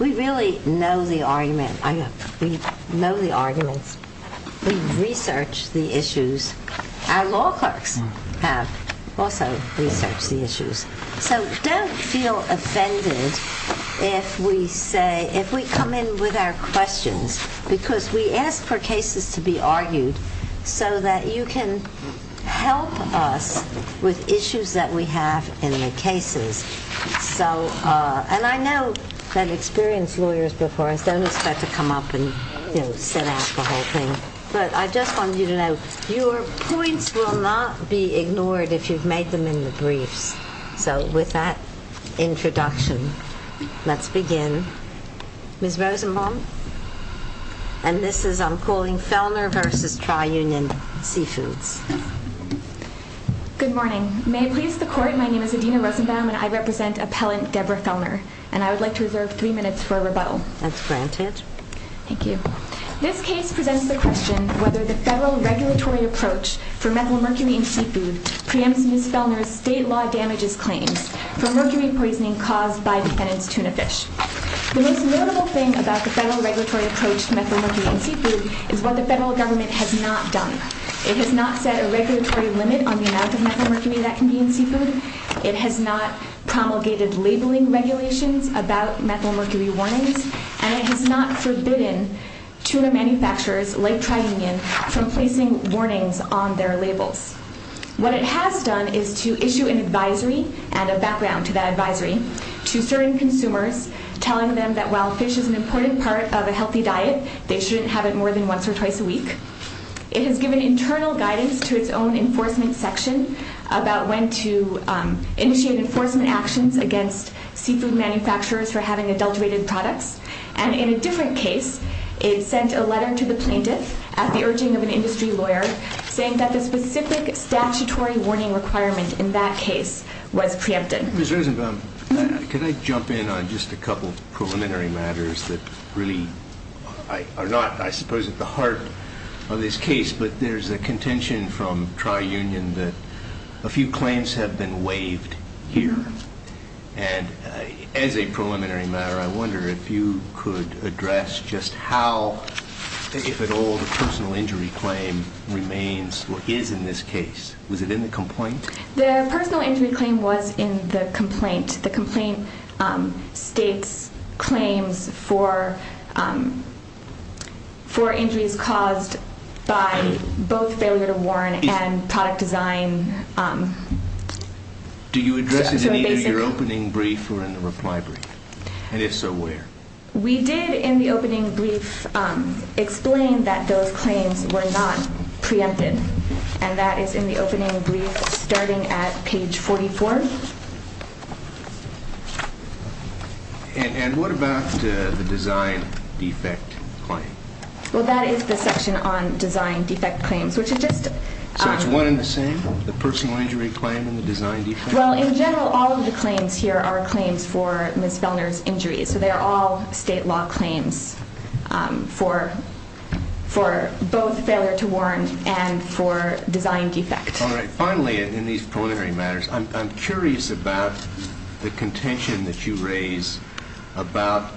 We really know the argument. We know the arguments. We research the issues at law clerks. So don't feel offended if we come in with our questions because we ask for cases to be argued so that you can help us with issues that we have in the cases. And I know that experienced lawyers before us don't expect to come up and set out the whole thing. But I just wanted you to know, your points will not be ignored if you've made them in the briefs. So with that introduction, let's begin. Ms. Rosenbaum? And this is, I'm calling, Fellner v. Tri Union Seafoods. Good morning. May it please the Court, my name is Adina Rosenbaum and I represent Appellant Deborah Fellner. And I would like to reserve three minutes for a rebuttal. That's granted. Thank you. This case presents the question whether the federal regulatory approach for methylmercury in seafood preempts Ms. Fellner's state law damages claims for mercury poisoning caused by defendant's tuna fish. The most notable thing about the federal regulatory approach to methylmercury in seafood is what the federal government has not done. It has not set a regulatory limit on the amount of methylmercury that can be in seafood. It has not promulgated labeling regulations about methylmercury warnings. And it has not forbidden tuna manufacturers like Tri Union from placing warnings on their labels. What it has done is to issue an advisory and a background to that advisory to certain consumers, telling them that while fish is an important part of a healthy diet, they shouldn't have it more than once or twice a week. It has given internal guidance to its own enforcement section about when to initiate enforcement actions against seafood manufacturers for having adulterated products. And in a different case, it sent a letter to the plaintiff at the urging of an industry lawyer, saying that the specific statutory warning requirement in that case was preempted. Ms. Rosenbaum, can I jump in on just a couple of preliminary matters that really are not, I suppose, at the heart of this case? But there's a contention from Tri Union that a few claims have been waived here. And as a preliminary matter, I wonder if you could address just how, if at all, the personal injury claim remains or is in this case. Was it in the complaint? The personal injury claim was in the complaint. The complaint states claims for injuries caused by both failure to warn and product design. Do you address it in either your opening brief or in the reply brief? And if so, where? We did in the opening brief explain that those claims were not preempted. And that is in the opening brief starting at page 44. And what about the design defect claim? Well, that is the section on design defect claims, which is just- So it's one and the same, the personal injury claim and the design defect? Well, in general, all of the claims here are claims for Ms. Vellner's injuries. So they are all state law claims for both failure to warn and for design defect. All right. Finally, in these preliminary matters, I'm curious about the contention that you raise about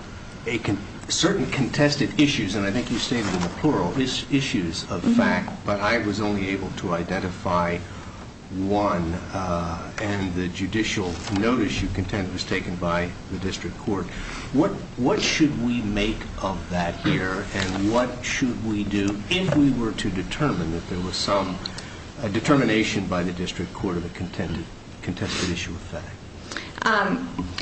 certain contested issues. And I think you stated in the plural issues of fact, but I was only able to identify one. And the judicial notice you contend was taken by the district court. What should we make of that here? And what should we do if we were to determine that there was some determination by the district court of a contested issue of fact?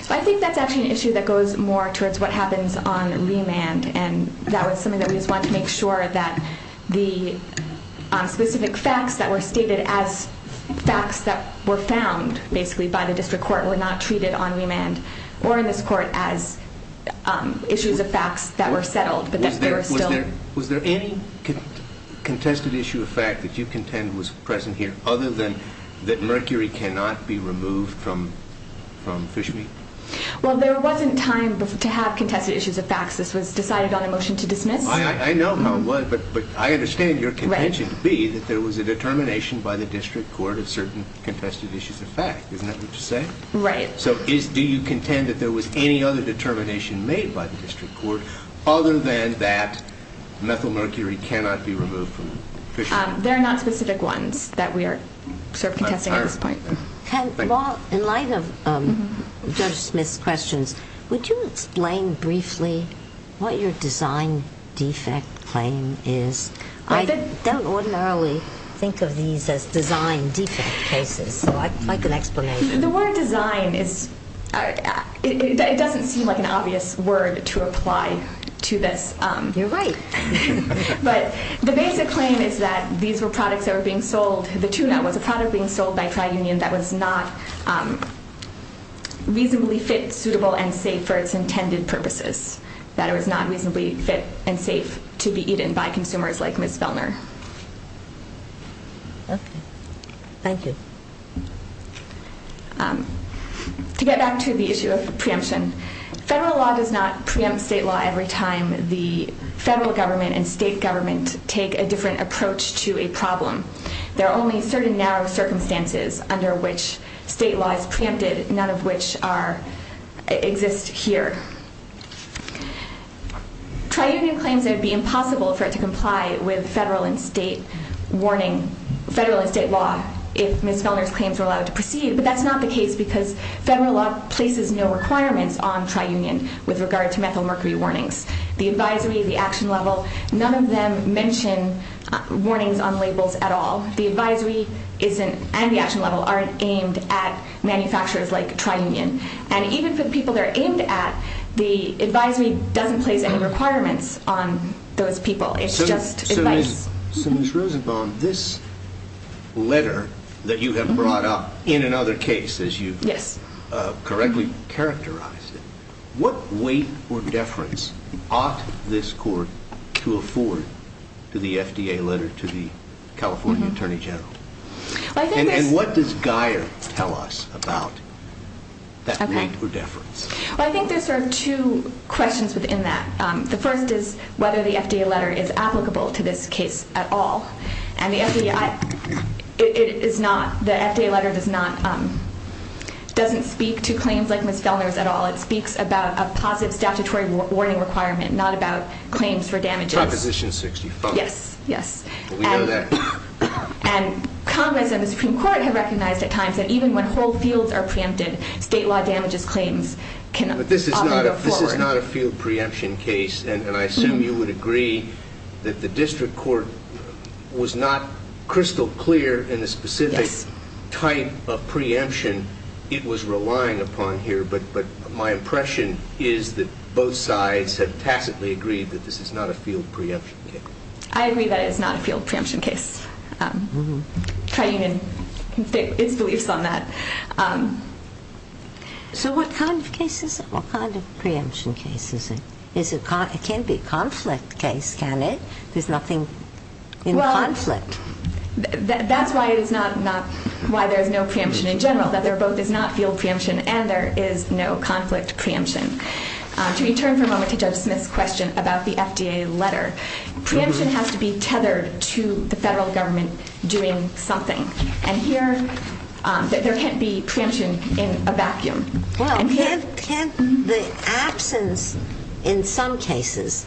I think that's actually an issue that goes more towards what happens on remand. And that was something that we just wanted to make sure that the specific facts that were stated as facts that were found, basically, by the district court, were not treated on remand or in this court as issues of facts that were settled, but that they were still- Was there any contested issue of fact that you contend was present here, other than that mercury cannot be removed from fish meat? Well, there wasn't time to have contested issues of facts. This was decided on a motion to dismiss. I know how it was, but I understand your contention to be that there was a determination by the district court of certain contested issues of fact. Isn't that what you're saying? Right. So do you contend that there was any other determination made by the district court other than that methyl mercury cannot be removed from fish meat? There are not specific ones that we are sort of contesting at this point. Well, in light of Judge Smith's questions, would you explain briefly what your design defect claim is? I don't ordinarily think of these as design defect cases, so I'd like an explanation. The word design, it doesn't seem like an obvious word to apply to this. You're right. But the basic claim is that these were products that were being sold. The tuna was a product being sold by Tri-Union that was not reasonably fit, suitable, and safe for its intended purposes, that it was not reasonably fit and safe to be eaten by consumers like Ms. Vellner. Okay. Thank you. To get back to the issue of preemption, federal law does not preempt state law every time the federal government and state government take a different approach to a problem. There are only certain narrow circumstances under which state law is preempted, none of which exist here. Tri-Union claims it would be impossible for it to comply with federal and state law if Ms. Vellner's claims were allowed to proceed, but that's not the case because federal law places no requirements on Tri-Union with regard to methyl mercury warnings. The advisory, the action level, none of them mention warnings on labels at all. The advisory and the action level aren't aimed at manufacturers like Tri-Union. And even for the people they're aimed at, the advisory doesn't place any requirements on those people. It's just advice. So, Ms. Rosenbaum, this letter that you have brought up in another case, as you correctly characterized it, what weight or deference ought this court to afford to the FDA letter to the California Attorney General? And what does Guyer tell us about that weight or deference? I think there's sort of two questions within that. The first is whether the FDA letter is applicable to this case at all. And the FDA, it is not. The FDA letter does not, doesn't speak to claims like Ms. Vellner's at all. It speaks about a positive statutory warning requirement, not about claims for damages. Proposition 65. Yes, yes. We know that. And Congress and the Supreme Court have recognized at times that even when whole fields are preempted, state law damages claims can often go forward. But this is not a field preemption case, and I assume you would agree that the district court was not crystal clear in the specific type of preemption it was relying upon here. But my impression is that both sides have tacitly agreed that this is not a field preemption case. I agree that it is not a field preemption case. Tri-Union can state its beliefs on that. So what kind of case is it? What kind of preemption case is it? It can't be a conflict case, can it? There's nothing in conflict. Well, that's why there's no preemption in general, that there both is not field preemption and there is no conflict preemption. To return for a moment to Judge Smith's question about the FDA letter, preemption has to be tethered to the federal government doing something. And here, there can't be preemption in a vacuum. Well, can't the absence in some cases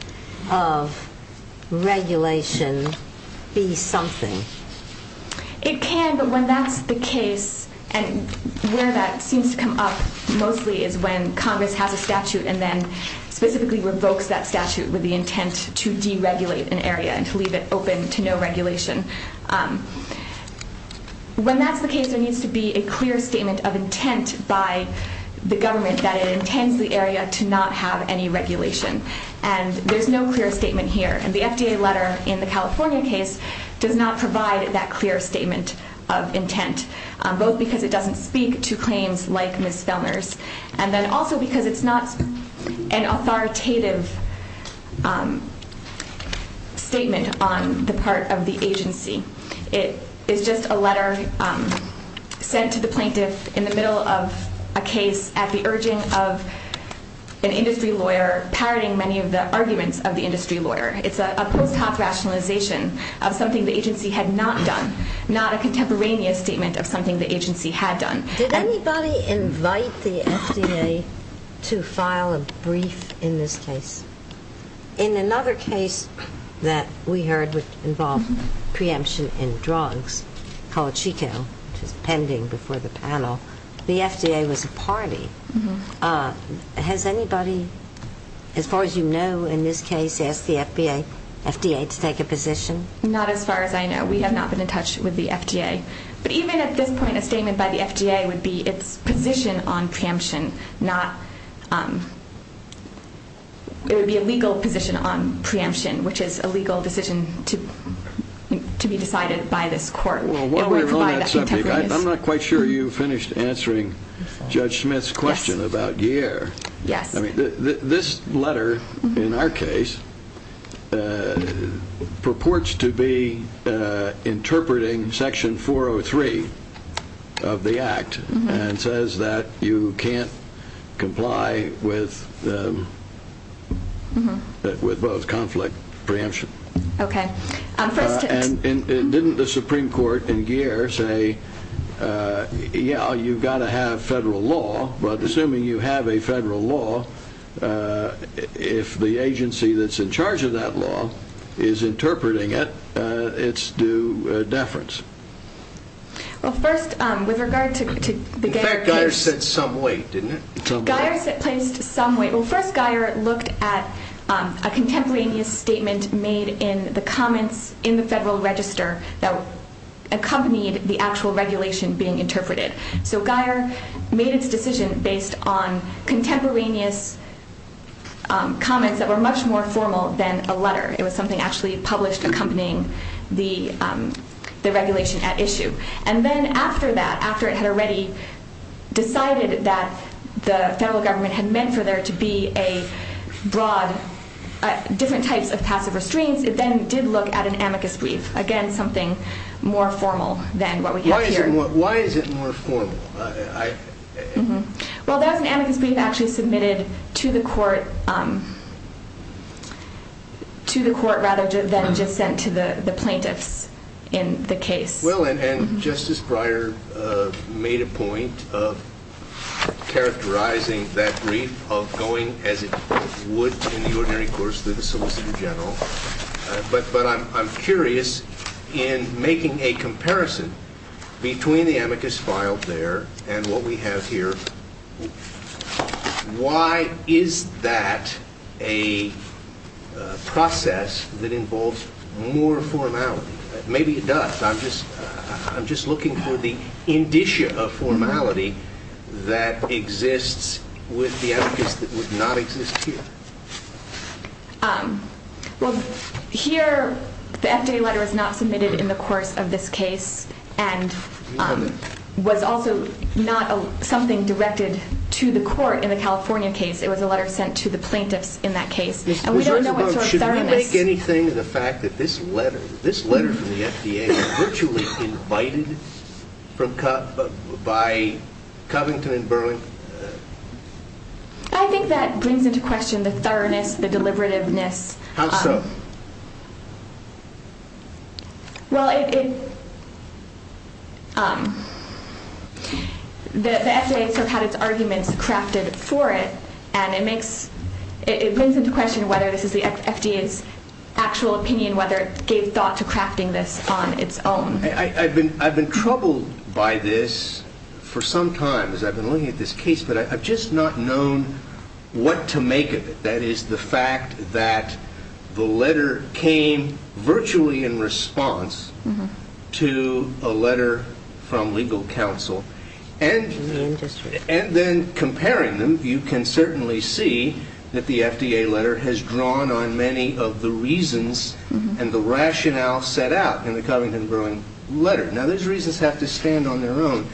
of regulation be something? It can, but when that's the case, and where that seems to come up mostly is when Congress has a statute and then specifically revokes that statute with the intent to deregulate an area and to leave it open to no regulation. When that's the case, there needs to be a clear statement of intent by the government that it intends the area to not have any regulation. And there's no clear statement here. And the FDA letter in the California case does not provide that clear statement of intent, both because it doesn't speak to claims like Ms. Fellner's, and then also because it's not an authoritative statement on the part of the agency. It is just a letter sent to the plaintiff in the middle of a case at the urging of an industry lawyer parroting many of the arguments of the industry lawyer. It's a post-hoc rationalization of something the agency had not done, not a contemporaneous statement of something the agency had done. Did anybody invite the FDA to file a brief in this case? In another case that we heard involved preemption in drugs called Chico, which is pending before the panel, the FDA was a party. Has anybody, as far as you know in this case, asked the FDA to take a position? Not as far as I know. We have not been in touch with the FDA. But even at this point, a statement by the FDA would be its position on preemption, not it would be a legal position on preemption, which is a legal decision to be decided by this court. Well, while we're on that subject, I'm not quite sure you finished answering Judge Smith's question about year. Yes. This letter, in our case, purports to be interpreting Section 403 of the Act and says that you can't comply with both conflict preemption. Okay. And didn't the Supreme Court in Geer say, yeah, you've got to have federal law, but assuming you have a federal law, if the agency that's in charge of that law is interpreting it, it's due deference. Well, first, with regard to the Geer case. In fact, Geer said some weight, didn't it? Geer placed some weight. Well, first Geer looked at a contemporaneous statement made in the comments in the federal register that accompanied the actual regulation being interpreted. So Geer made its decision based on contemporaneous comments that were much more formal than a letter. It was something actually published accompanying the regulation at issue. And then after that, after it had already decided that the federal government had meant for there to be different types of passive restraints, it then did look at an amicus brief, again, something more formal than what we have here. Why is it more formal? Well, that was an amicus brief actually submitted to the court rather than just sent to the plaintiffs in the case. Well, and Justice Breyer made a point of characterizing that brief of going as it would in the ordinary course through the solicitor general. But I'm curious in making a comparison between the amicus filed there and what we have here, why is that a process that involves more formality? Maybe it does. I'm just looking for the indicia of formality that exists with the amicus that would not exist here. Well, here the FDA letter is not submitted in the course of this case and was also not something directed to the court in the California case. It was a letter sent to the plaintiffs in that case. And we don't know what sort of thoroughness... Should we make anything of the fact that this letter, this letter from the FDA, was virtually invited by Covington and Burlington? I think that brings into question the thoroughness, the deliberativeness. How so? Well, the FDA itself had its arguments crafted for it, and it brings into question whether this is the FDA's actual opinion, whether it gave thought to crafting this on its own. I've been troubled by this for some time as I've been looking at this case, but I've just not known what to make of it, that is the fact that the letter came virtually in response to a letter from legal counsel. And then comparing them, you can certainly see that the FDA letter has drawn on many of the reasons and the rationale set out in the Covington-Burlington letter. Now, those reasons have to stand on their own,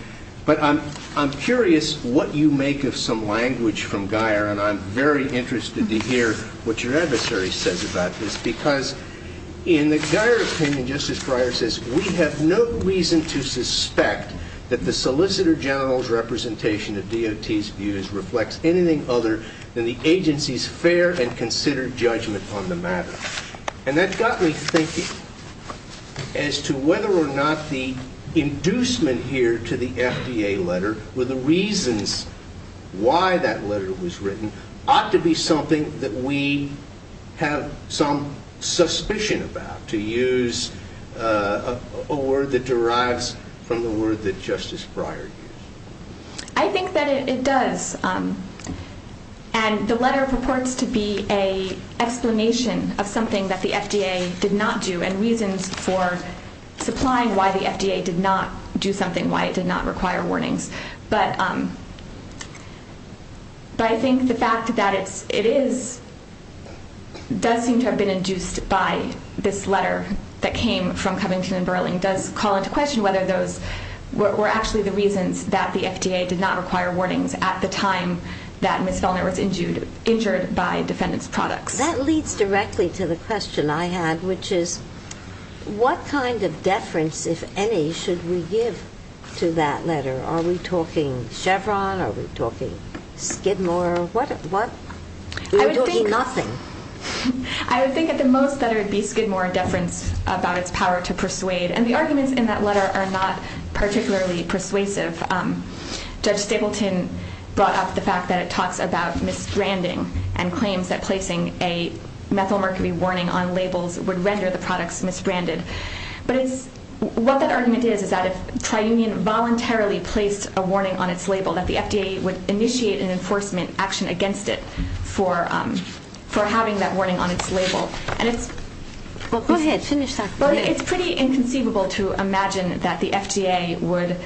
but I'm curious what you make of some language from Geier, and I'm very interested to hear what your adversary says about this, because in the Geier opinion, Justice Breyer says, we have no reason to suspect that the solicitor general's representation of DOT's views reflects anything other than the agency's fair and considered judgment on the matter. And that got me thinking as to whether or not the inducement here to the FDA letter with the reasons why that letter was written ought to be something that we have some suspicion about, to use a word that derives from the word that Justice Breyer used. I think that it does. And the letter purports to be an explanation of something that the FDA did not do and reasons for supplying why the FDA did not do something, why it did not require warnings. But I think the fact that it does seem to have been induced by this letter that came from Covington and Burling does call into question whether those were actually the reasons that the FDA did not require warnings at the time that Ms. Feldner was injured by defendant's products. That leads directly to the question I had, which is what kind of deference, if any, should we give to that letter? Are we talking Chevron? Are we talking Skidmore? We're talking nothing. I would think at the most that it would be Skidmore deference about its power to persuade. And the arguments in that letter are not particularly persuasive. Judge Stapleton brought up the fact that it talks about misbranding and claims that placing a methylmercury warning on labels would render the products misbranded. But what that argument is is that if Tri-Union voluntarily placed a warning on its label, that the FDA would initiate an enforcement action against it for having that warning on its label. Go ahead. Finish that. Well, it's pretty inconceivable to imagine that the FDA would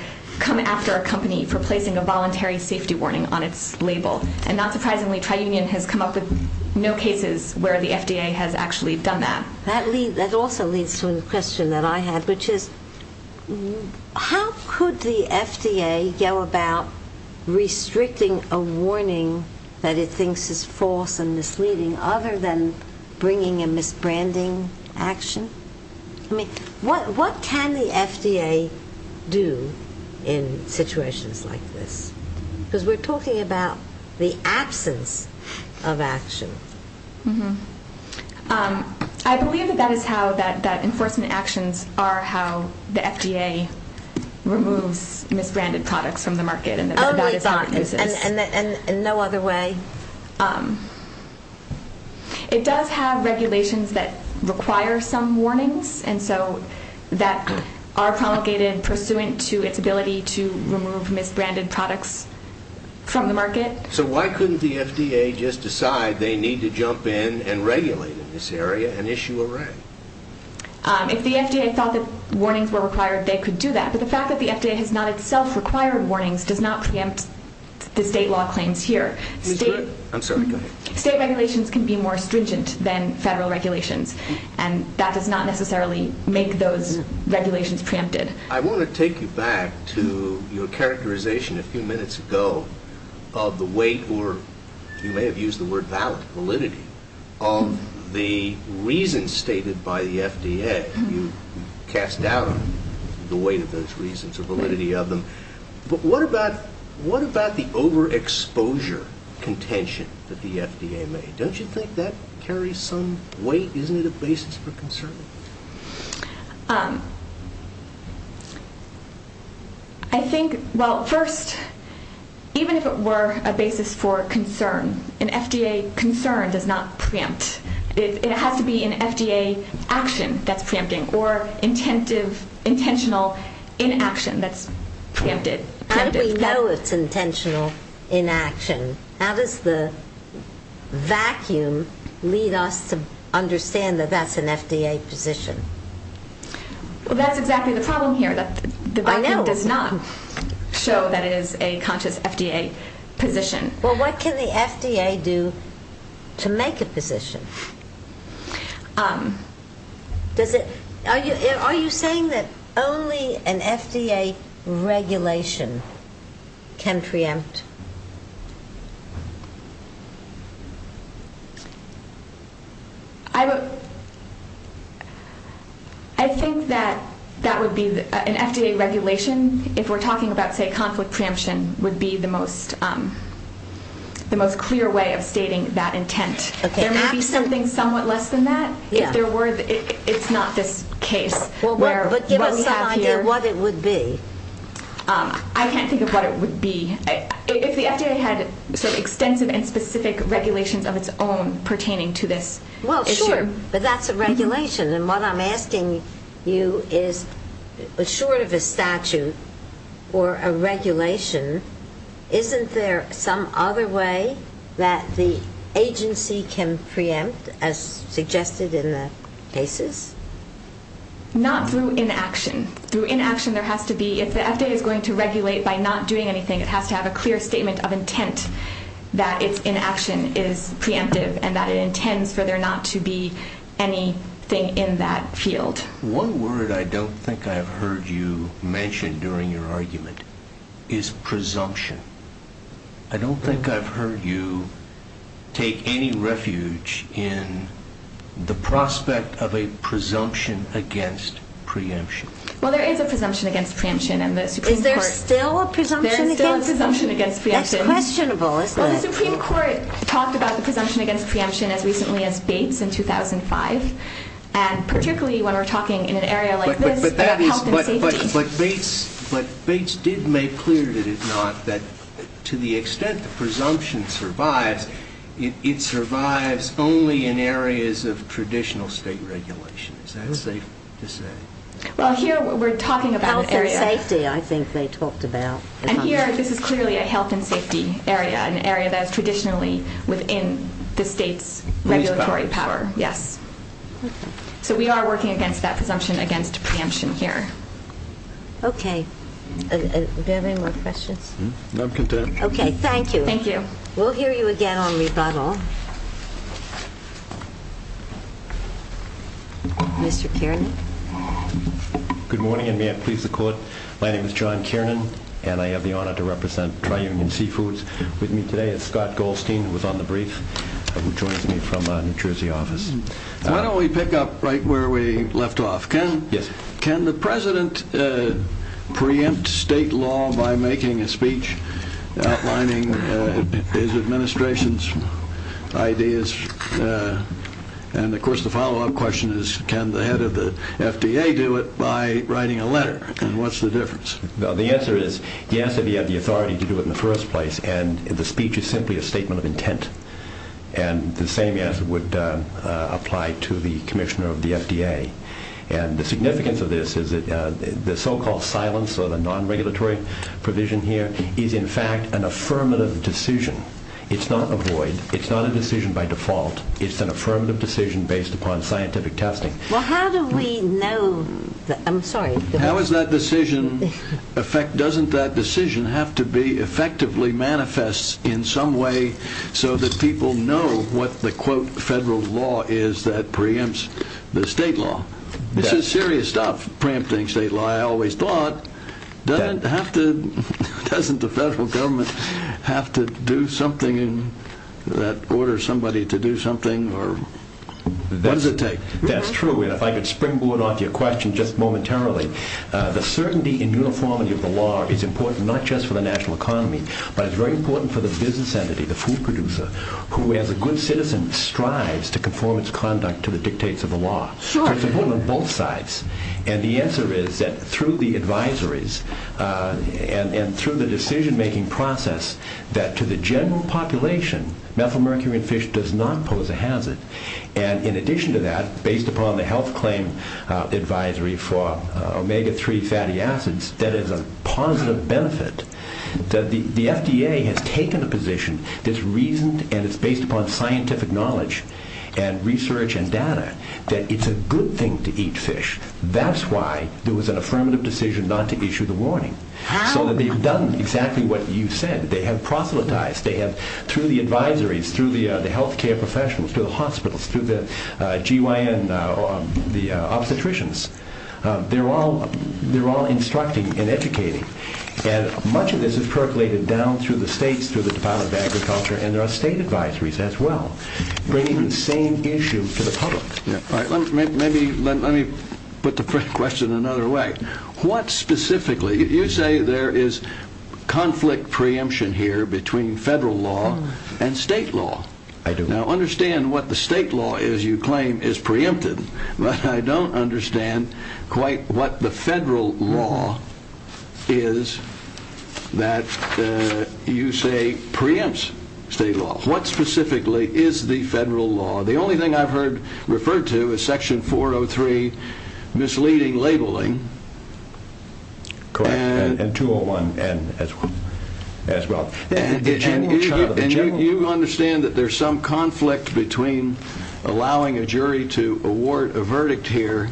come after a company for placing a voluntary safety warning on its label. And not surprisingly, Tri-Union has come up with no cases where the FDA has actually done that. That also leads to a question that I had, which is how could the FDA go about restricting a warning that it thinks is false and misleading other than bringing a misbranding action? I mean, what can the FDA do in situations like this? Because we're talking about the absence of action. I believe that enforcement actions are how the FDA removes misbranded products from the market. Only thought and no other way. It does have regulations that require some warnings and so that are promulgated pursuant to its ability to remove misbranded products from the market. So why couldn't the FDA just decide they need to jump in and regulate in this area and issue a rank? If the FDA thought that warnings were required, they could do that. But the fact that the FDA has not itself required warnings does not preempt the state law claims here. State regulations can be more stringent than federal regulations. And that does not necessarily make those regulations preempted. I want to take you back to your characterization a few minutes ago of the weight, or you may have used the word valid, validity, of the reasons stated by the FDA. You cast doubt on the weight of those reasons or validity of them. But what about the overexposure contention that the FDA made? Don't you think that carries some weight? Isn't it a basis for concern? I think, well, first, even if it were a basis for concern, an FDA concern does not preempt. It has to be an FDA action that's preempting or intentional inaction that's preempted. How do we know it's intentional inaction? How does the vacuum lead us to understand that that's an FDA position? Well, that's exactly the problem here. The vacuum does not show that it is a conscious FDA position. Well, what can the FDA do to make a position? Are you saying that only an FDA regulation can preempt? I think that an FDA regulation, if we're talking about, say, conflict preemption, would be the most clear way of stating that intent. There may be something somewhat less than that. If there were, it's not this case. But give us some idea what it would be. I can't think of what it would be. If the FDA had sort of extensive and specific regulations of its own pertaining to this issue. Well, sure, but that's a regulation. And what I'm asking you is, short of a statute or a regulation, isn't there some other way that the agency can preempt, as suggested in the cases? Not through inaction. Through inaction there has to be, if the FDA is going to regulate by not doing anything, it has to have a clear statement of intent that its inaction is preemptive and that it intends for there not to be anything in that field. One word I don't think I've heard you mention during your argument is presumption. I don't think I've heard you take any refuge in the prospect of a presumption against preemption. Well, there is a presumption against preemption in the Supreme Court. There is still a presumption against preemption? There is still a presumption against preemption. That's questionable, isn't it? Well, the Supreme Court talked about the presumption against preemption as recently as Bates in 2005. And particularly when we're talking in an area like this, health and safety. But Bates did make clear, did it not, that to the extent the presumption survives, it survives only in areas of traditional state regulation. Is that safe to say? Well, here we're talking about health and safety. I think they talked about it. And here, this is clearly a health and safety area, an area that is traditionally within the state's regulatory power. Yes. So we are working against that presumption against preemption here. Okay. Do you have any more questions? No, I'm content. Okay, thank you. Thank you. We'll hear you again on rebuttal. Mr. Kiernan? Good morning, and may I please the Court? My name is John Kiernan, and I have the honor to represent Tri-Union Seafoods. With me today is Scott Goldstein, who was on the brief, who joins me from New Jersey office. Why don't we pick up right where we left off? Yes. Can the President preempt state law by making a speech outlining his administration's ideas? And, of course, the follow-up question is, can the head of the FDA do it by writing a letter? And what's the difference? The answer is yes, if you have the authority to do it in the first place. And the speech is simply a statement of intent. And the same answer would apply to the commissioner of the FDA. And the significance of this is that the so-called silence or the non-regulatory provision here is, in fact, an affirmative decision. It's not a void. It's not a decision by default. It's an affirmative decision based upon scientific testing. Well, how do we know that? I'm sorry. How does that decision affect? Doesn't that decision have to be effectively manifest in some way so that people know what the, quote, federal law is that preempts the state law? This is serious stuff, preempting state law. Doesn't the federal government have to do something that orders somebody to do something? What does it take? That's true. And if I could springboard off your question just momentarily. The certainty and uniformity of the law is important not just for the national economy, but it's very important for the business entity, the food producer, who, as a good citizen, strives to conform its conduct to the dictates of the law. So it's important on both sides. And the answer is that through the advisories and through the decision-making process, that to the general population methylmercury in fish does not pose a hazard. And in addition to that, based upon the health claim advisory for omega-3 fatty acids, that is a positive benefit that the FDA has taken a position that's reasoned and it's based upon scientific knowledge and research and data that it's a good thing to eat fish. That's why there was an affirmative decision not to issue the warning, so that they've done exactly what you said. They have proselytized. They have, through the advisories, through the health care professionals, through the hospitals, through the GYN, the obstetricians, they're all instructing and educating. And much of this has percolated down through the states, through the Department of Agriculture, and there are state advisories as well, bringing the same issue to the public. All right. Let me put the question another way. What specifically, you say there is conflict preemption here between federal law and state law. I do. Now, understand what the state law is you claim is preempted, but I don't understand quite what the federal law is that you say preempts state law. What specifically is the federal law? The only thing I've heard referred to is Section 403, misleading labeling. Correct, and 201 as well. And you understand that there's some conflict between allowing a jury to award a verdict here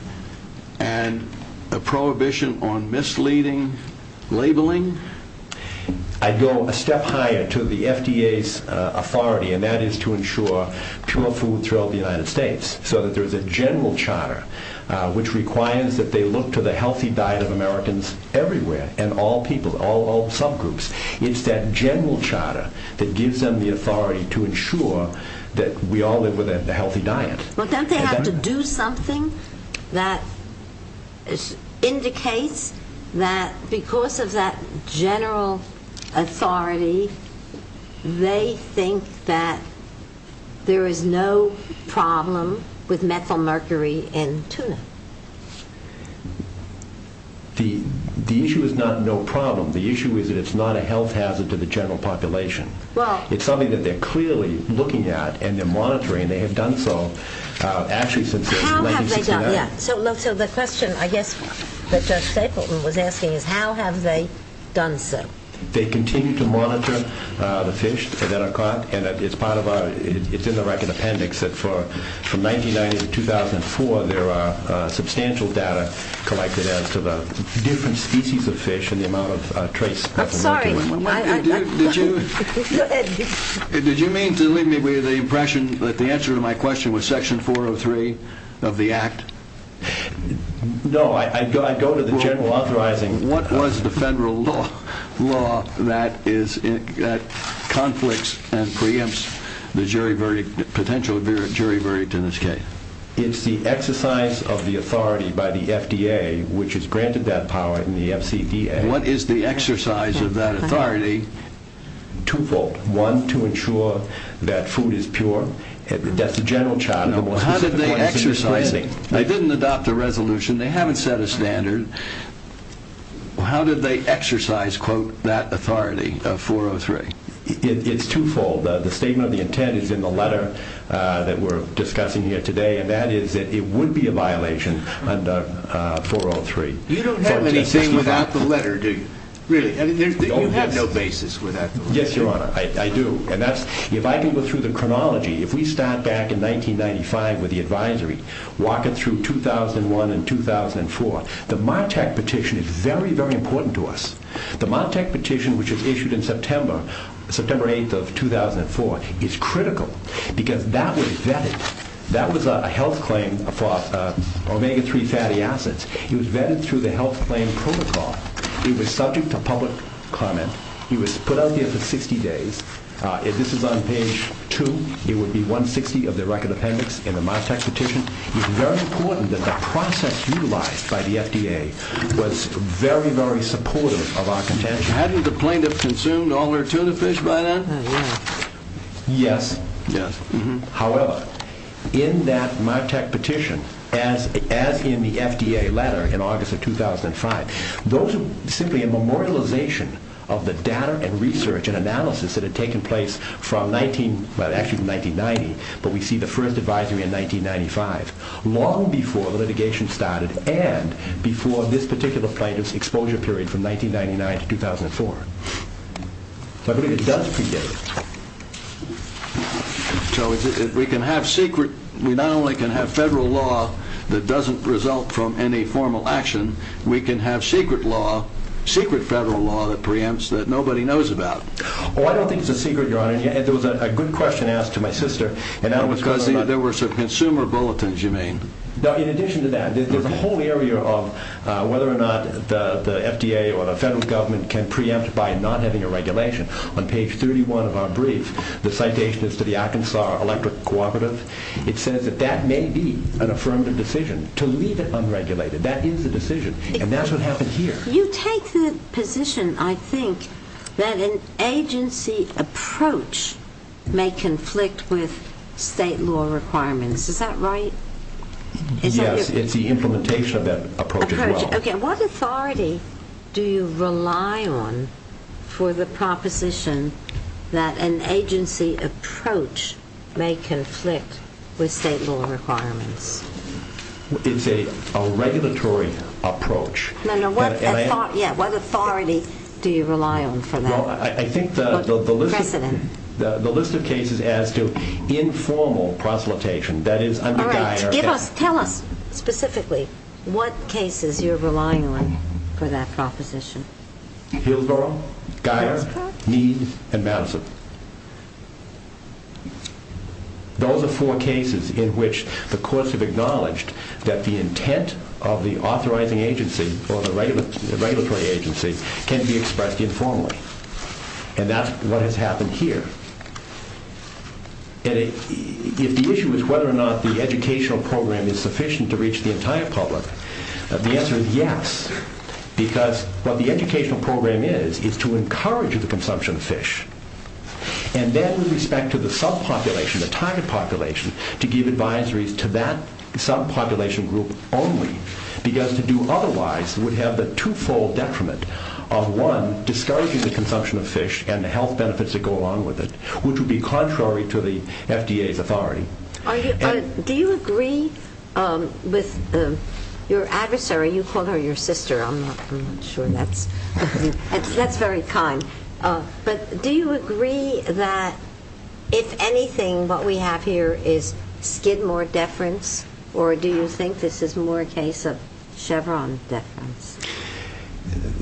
and a prohibition on misleading labeling? I go a step higher to the FDA's authority, and that is to ensure pure food throughout the United States, so that there's a general charter which requires that they look to the healthy diet of Americans everywhere, and all people, all subgroups. It's that general charter that gives them the authority to ensure that we all live with a healthy diet. Well, don't they have to do something that indicates that because of that general authority, they think that there is no problem with methylmercury in tuna? The issue is not no problem. The issue is that it's not a health hazard to the general population. It's something that they're clearly looking at and they're monitoring, and they have done so actually since 1969. So the question, I guess, that Judge Stapleton was asking is how have they done so? They continue to monitor the fish that are caught, and it's in the record appendix that from 1990 to 2004, there are substantial data collected as to the different species of fish and the amount of trace. I'm sorry. Did you mean to leave me with the impression that the answer to my question was Section 403 of the Act? No, I go to the general authorizing. What was the federal law that conflicts and preempts the potential jury verdict in this case? It's the exercise of the authority by the FDA, which has granted that power in the FCDA. What is the exercise of that authority? Twofold. One, to ensure that food is pure. That's the general charter. How did they exercise it? They didn't adopt a resolution. They haven't set a standard. How did they exercise, quote, that authority of 403? It's twofold. The statement of the intent is in the letter that we're discussing here today, and that is that it would be a violation under 403. You don't have anything without the letter, do you? Really? You have no basis without the letter? Yes, Your Honor, I do. And if I can go through the chronology, if we start back in 1995 with the advisory, walk it through 2001 and 2004, the Martec petition is very, very important to us. The Martec petition, which was issued in September, September 8th of 2004, is critical because that was vetted. That was a health claim for omega-3 fatty acids. It was vetted through the health claim protocol. It was subject to public comment. It was put out there for 60 days. This is on page 2. It would be 160 of the record appendix in the Martec petition. It's very important that the process utilized by the FDA was very, very supportive of our contention. Hadn't the plaintiff consumed all her tuna fish by then? Yes. However, in that Martec petition, as in the FDA letter in August of 2005, those are simply a memorialization of the data and research and analysis that had taken place from actually 1990, but we see the first advisory in 1995, long before the litigation started and before this particular plaintiff's exposure period from 1999 to 2004. So I believe it does predate. So we not only can have federal law that doesn't result from any formal action, we can have secret law, secret federal law that preempts that nobody knows about. Oh, I don't think it's a secret, Your Honor. There was a good question asked to my sister. No, because there were some consumer bulletins, you mean. No, in addition to that, there's a whole area of whether or not the FDA or the federal government can preempt by not having a regulation. On page 31 of our brief, the citation is to the Arkansas Electric Cooperative. It says that that may be an affirmative decision to leave it unregulated. That is a decision, and that's what happened here. You take the position, I think, that an agency approach may conflict with state law requirements. Is that right? Yes, it's the implementation of that approach as well. Okay, what authority do you rely on for the proposition that an agency approach may conflict with state law requirements? It's a regulatory approach. No, no, what authority do you rely on for that? Well, I think the list of cases as to informal proselytization, that is under Geier. All right, tell us specifically what cases you're relying on for that proposition. Hillsborough, Geier, Meade, and Madison. Those are four cases in which the courts have acknowledged that the intent of the authorizing agency or the regulatory agency can be expressed informally, and that's what has happened here. If the issue is whether or not the educational program is sufficient to reach the entire public, the answer is yes, because what the educational program is is to encourage the consumption of fish, and then with respect to the subpopulation, the target population, to give advisories to that subpopulation group only, because to do otherwise would have the twofold detriment of, one, discouraging the consumption of fish and the health benefits that go along with it, which would be contrary to the FDA's authority. Do you agree with your adversary? You called her your sister. I'm not sure that's very kind. But do you agree that, if anything, what we have here is skid more deference, or do you think this is more a case of Chevron deference?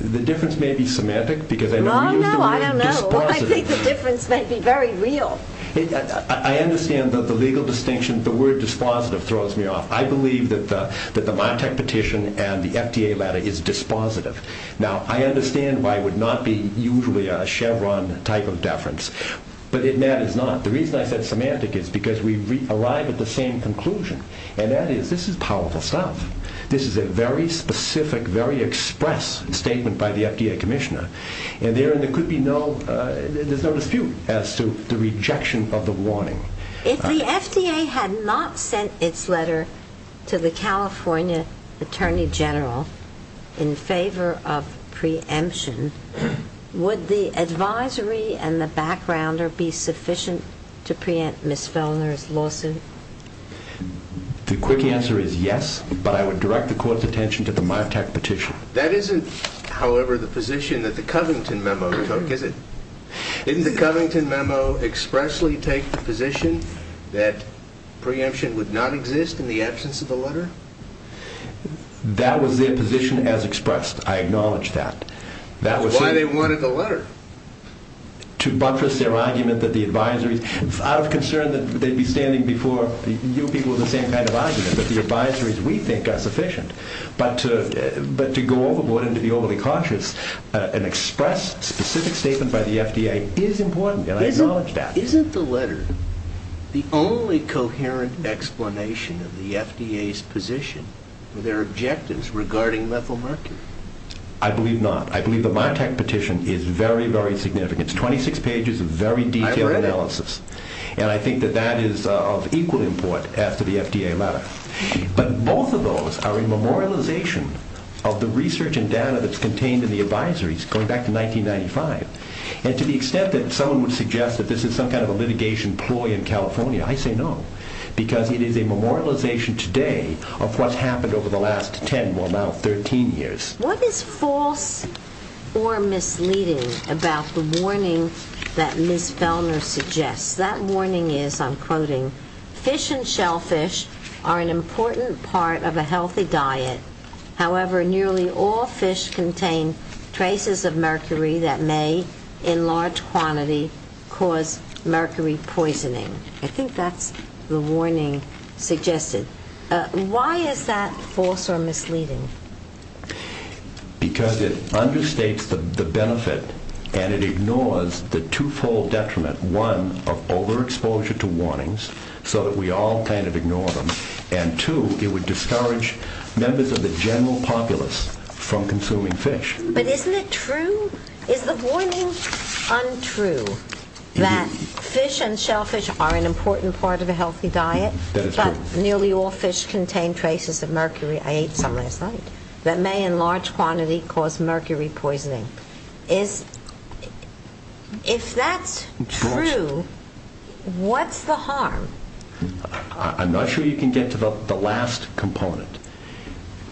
The difference may be semantic, because I know you use the word dispositive. Oh, no, I don't know. I think the difference may be very real. I understand the legal distinction. The word dispositive throws me off. I believe that the Montech petition and the FDA letter is dispositive. Now, I understand why it would not be usually a Chevron type of deference, but it matters not. The reason I said semantic is because we arrive at the same conclusion, and that is this is powerful stuff. This is a very specific, very express statement by the FDA commissioner, If the FDA had not sent its letter to the California Attorney General in favor of preemption, would the advisory and the backgrounder be sufficient to preempt Ms. Fellner's lawsuit? The quick answer is yes, but I would direct the Court's attention to the Montech petition. That isn't, however, the position that the Covington memo took, is it? Didn't the Covington memo expressly take the position that preemption would not exist in the absence of the letter? That was their position as expressed. I acknowledge that. That's why they wanted the letter. To buttress their argument that the advisories, out of concern that they'd be standing before you people with the same kind of argument, that the advisories, we think, are sufficient. But to go overboard and to be overly conscious and express a specific statement by the FDA is important, and I acknowledge that. Isn't the letter the only coherent explanation of the FDA's position and their objectives regarding methylmercury? I believe not. I believe the Montech petition is very, very significant. It's 26 pages of very detailed analysis. I read it. And I think that that is of equal importance as to the FDA matter. But both of those are a memorialization of the research and data that's contained in the advisories going back to 1995. And to the extent that someone would suggest that this is some kind of a litigation ploy in California, I say no. Because it is a memorialization today of what's happened over the last 10, well, now 13 years. What is false or misleading about the warning that Ms. Fellner suggests? That warning is, I'm quoting, fish and shellfish are an important part of a healthy diet. However, nearly all fish contain traces of mercury that may, in large quantity, cause mercury poisoning. I think that's the warning suggested. Why is that false or misleading? Because it understates the benefit and it ignores the twofold detriment. One, of overexposure to warnings so that we all kind of ignore them. And two, it would discourage members of the general populace from consuming fish. But isn't it true? Is the warning untrue that fish and shellfish are an important part of a healthy diet? That is true. Nearly all fish contain traces of mercury, I ate some last night, that may, in large quantity, cause mercury poisoning. If that's true, what's the harm? I'm not sure you can get to the last component.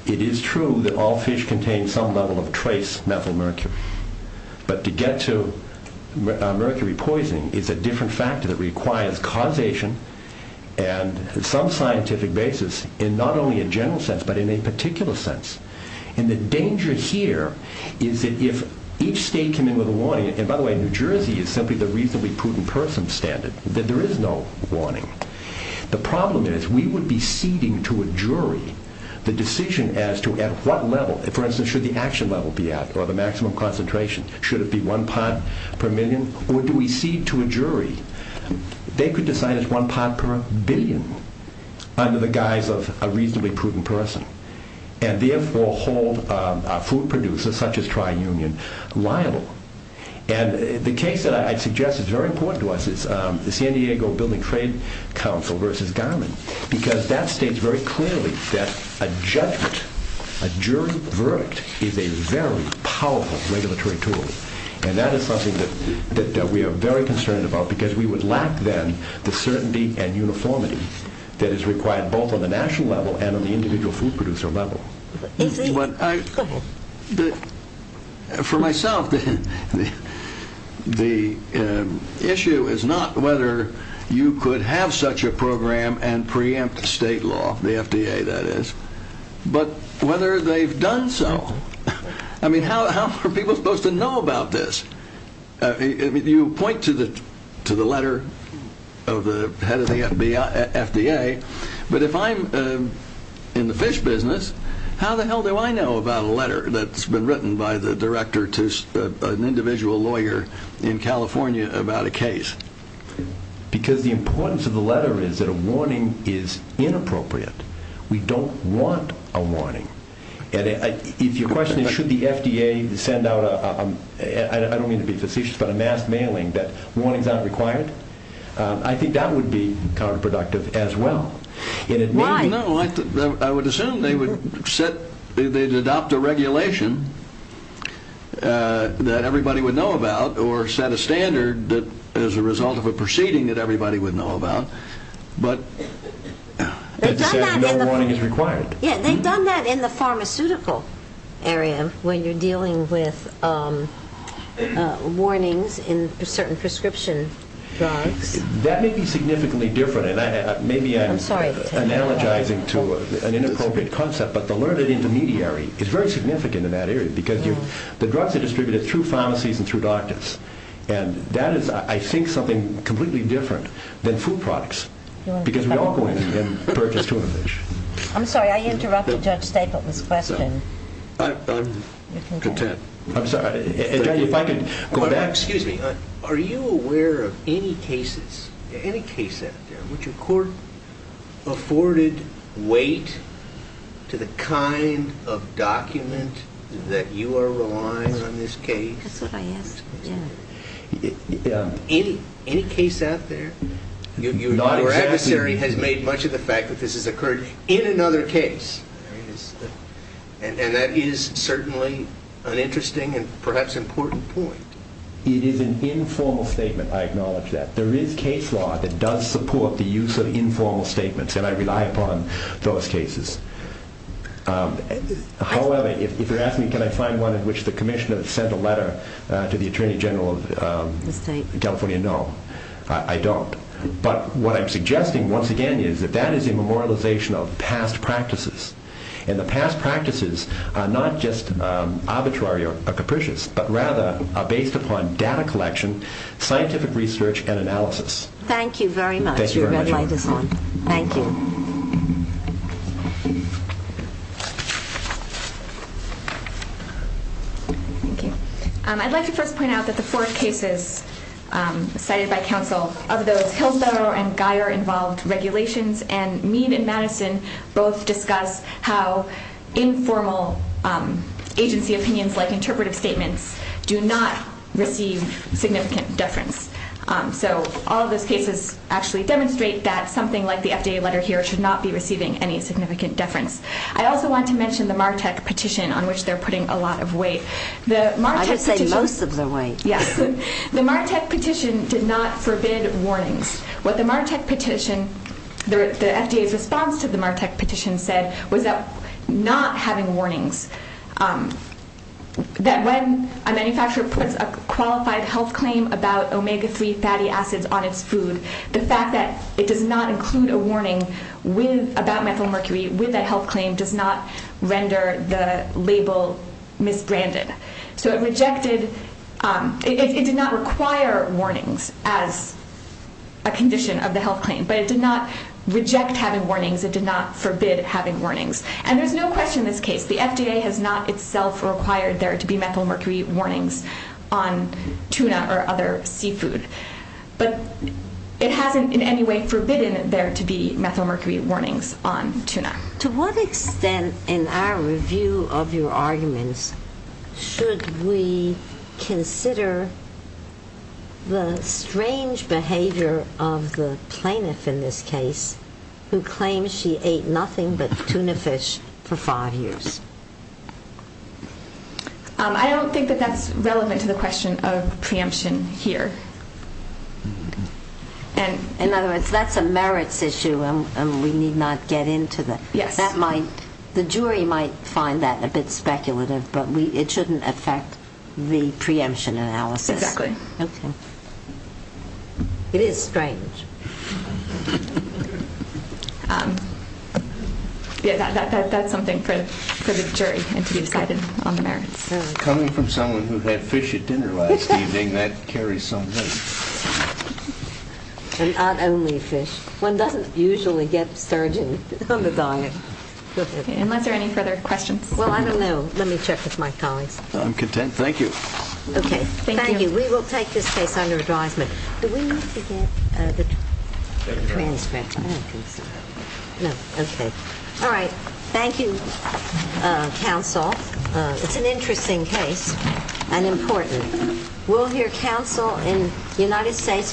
It is true that all fish contain some level of trace methylmercury. But to get to mercury poisoning is a different factor that requires causation. And some scientific basis, in not only a general sense, but in a particular sense. And the danger here is that if each state came in with a warning, and by the way, New Jersey is simply the reasonably prudent person standard, that there is no warning. The problem is, we would be ceding to a jury the decision as to at what level, for instance, should the action level be at, or the maximum concentration. Should it be one pot per million? Or do we cede to a jury? They could decide it's one pot per billion, under the guise of a reasonably prudent person. And therefore hold our food producers, such as tri-union, liable. And the case that I suggest is very important to us is the San Diego Building Trade Council versus Garland. Because that states very clearly that a judgment, a jury verdict, is a very powerful regulatory tool. And that is something that we are very concerned about, because we would lack then the certainty and uniformity that is required, both on the national level and on the individual food producer level. For myself, the issue is not whether you could have such a program and preempt state law, the FDA that is, but whether they've done so. I mean, how are people supposed to know about this? You point to the letter of the head of the FDA, but if I'm in the fish business, how the hell do I know about a letter that's been written by the director to an individual lawyer in California about a case? Because the importance of the letter is that a warning is inappropriate. We don't want a warning. And if your question is should the FDA send out a, I don't mean to be facetious, but a mass mailing that warning is not required, I think that would be counterproductive as well. Why? I would assume they would set, they'd adopt a regulation that everybody would know about, or set a standard that as a result of a proceeding that everybody would know about. But no warning is required. Yeah, they've done that in the pharmaceutical area when you're dealing with warnings in certain prescription drugs. That may be significantly different, and maybe I'm analogizing to an inappropriate concept, but the learned intermediary is very significant in that area, because the drugs are distributed through pharmacies and through doctors. And that is, I think, something completely different than food products, because we all go in and purchase tuna fish. I'm sorry. I interrupted Judge Stapleton's question. I'm content. I'm sorry. If I could go back. Excuse me. Are you aware of any cases, any case out there, which a court afforded weight to the kind of document that you are relying on in this case? That's what I asked. Yeah. Any case out there? Your adversary has made much of the fact that this has occurred in another case, and that is certainly an interesting and perhaps important point. It is an informal statement. I acknowledge that. There is case law that does support the use of informal statements, and I rely upon those cases. However, if you're asking me can I find one in which the Commissioner sent a letter to the Attorney General of California, no, I don't. But what I'm suggesting, once again, is that that is a memorialization of past practices. And the past practices are not just arbitrary or capricious, but rather are based upon data collection, scientific research, and analysis. Thank you very much. Thank you very much. Your red light is on. Thank you. Thank you. I'd like to first point out that the four cases cited by counsel, of those Hillsborough and Guyer-involved regulations and Meade and Madison, both discuss how informal agency opinions like interpretive statements do not receive significant deference. So all of those cases actually demonstrate that something like the FDA letter here should not be receiving any significant deference. I also want to mention the MARTEC petition on which they're putting a lot of weight. I should say most of the weight. Yes. The MARTEC petition did not forbid warnings. What the MARTEC petition, the FDA's response to the MARTEC petition, said was that not having warnings, that when a manufacturer puts a qualified health claim about omega-3 fatty acids on its food, the fact that it does not include a warning about methylmercury with that health claim does not render the label misbranded. So it rejected, it did not require warnings as a condition of the health claim, but it did not reject having warnings. It did not forbid having warnings. And there's no question in this case. The FDA has not itself required there to be methylmercury warnings on tuna or other seafood. But it hasn't in any way forbidden there to be methylmercury warnings on tuna. To what extent in our review of your arguments should we consider the strange behavior of the plaintiff in this case who claims she ate nothing but tuna fish for five years? I don't think that that's relevant to the question of preemption here. In other words, that's a merits issue and we need not get into that. Yes. The jury might find that a bit speculative, but it shouldn't affect the preemption analysis. Exactly. Okay. It is strange. That's something for the jury to be decided on the merits. Coming from someone who had fish at dinner last evening, that carries some weight. And not only fish. One doesn't usually get sturgeon on the diet. Unless there are any further questions. Well, I don't know. Let me check with my colleagues. I'm content. Thank you. Okay. Thank you. We will take this case under advisement. Do we need to get the transcript? I don't think so. No. Okay. All right. Thank you, counsel. We'll hear counsel in United States versus Canada.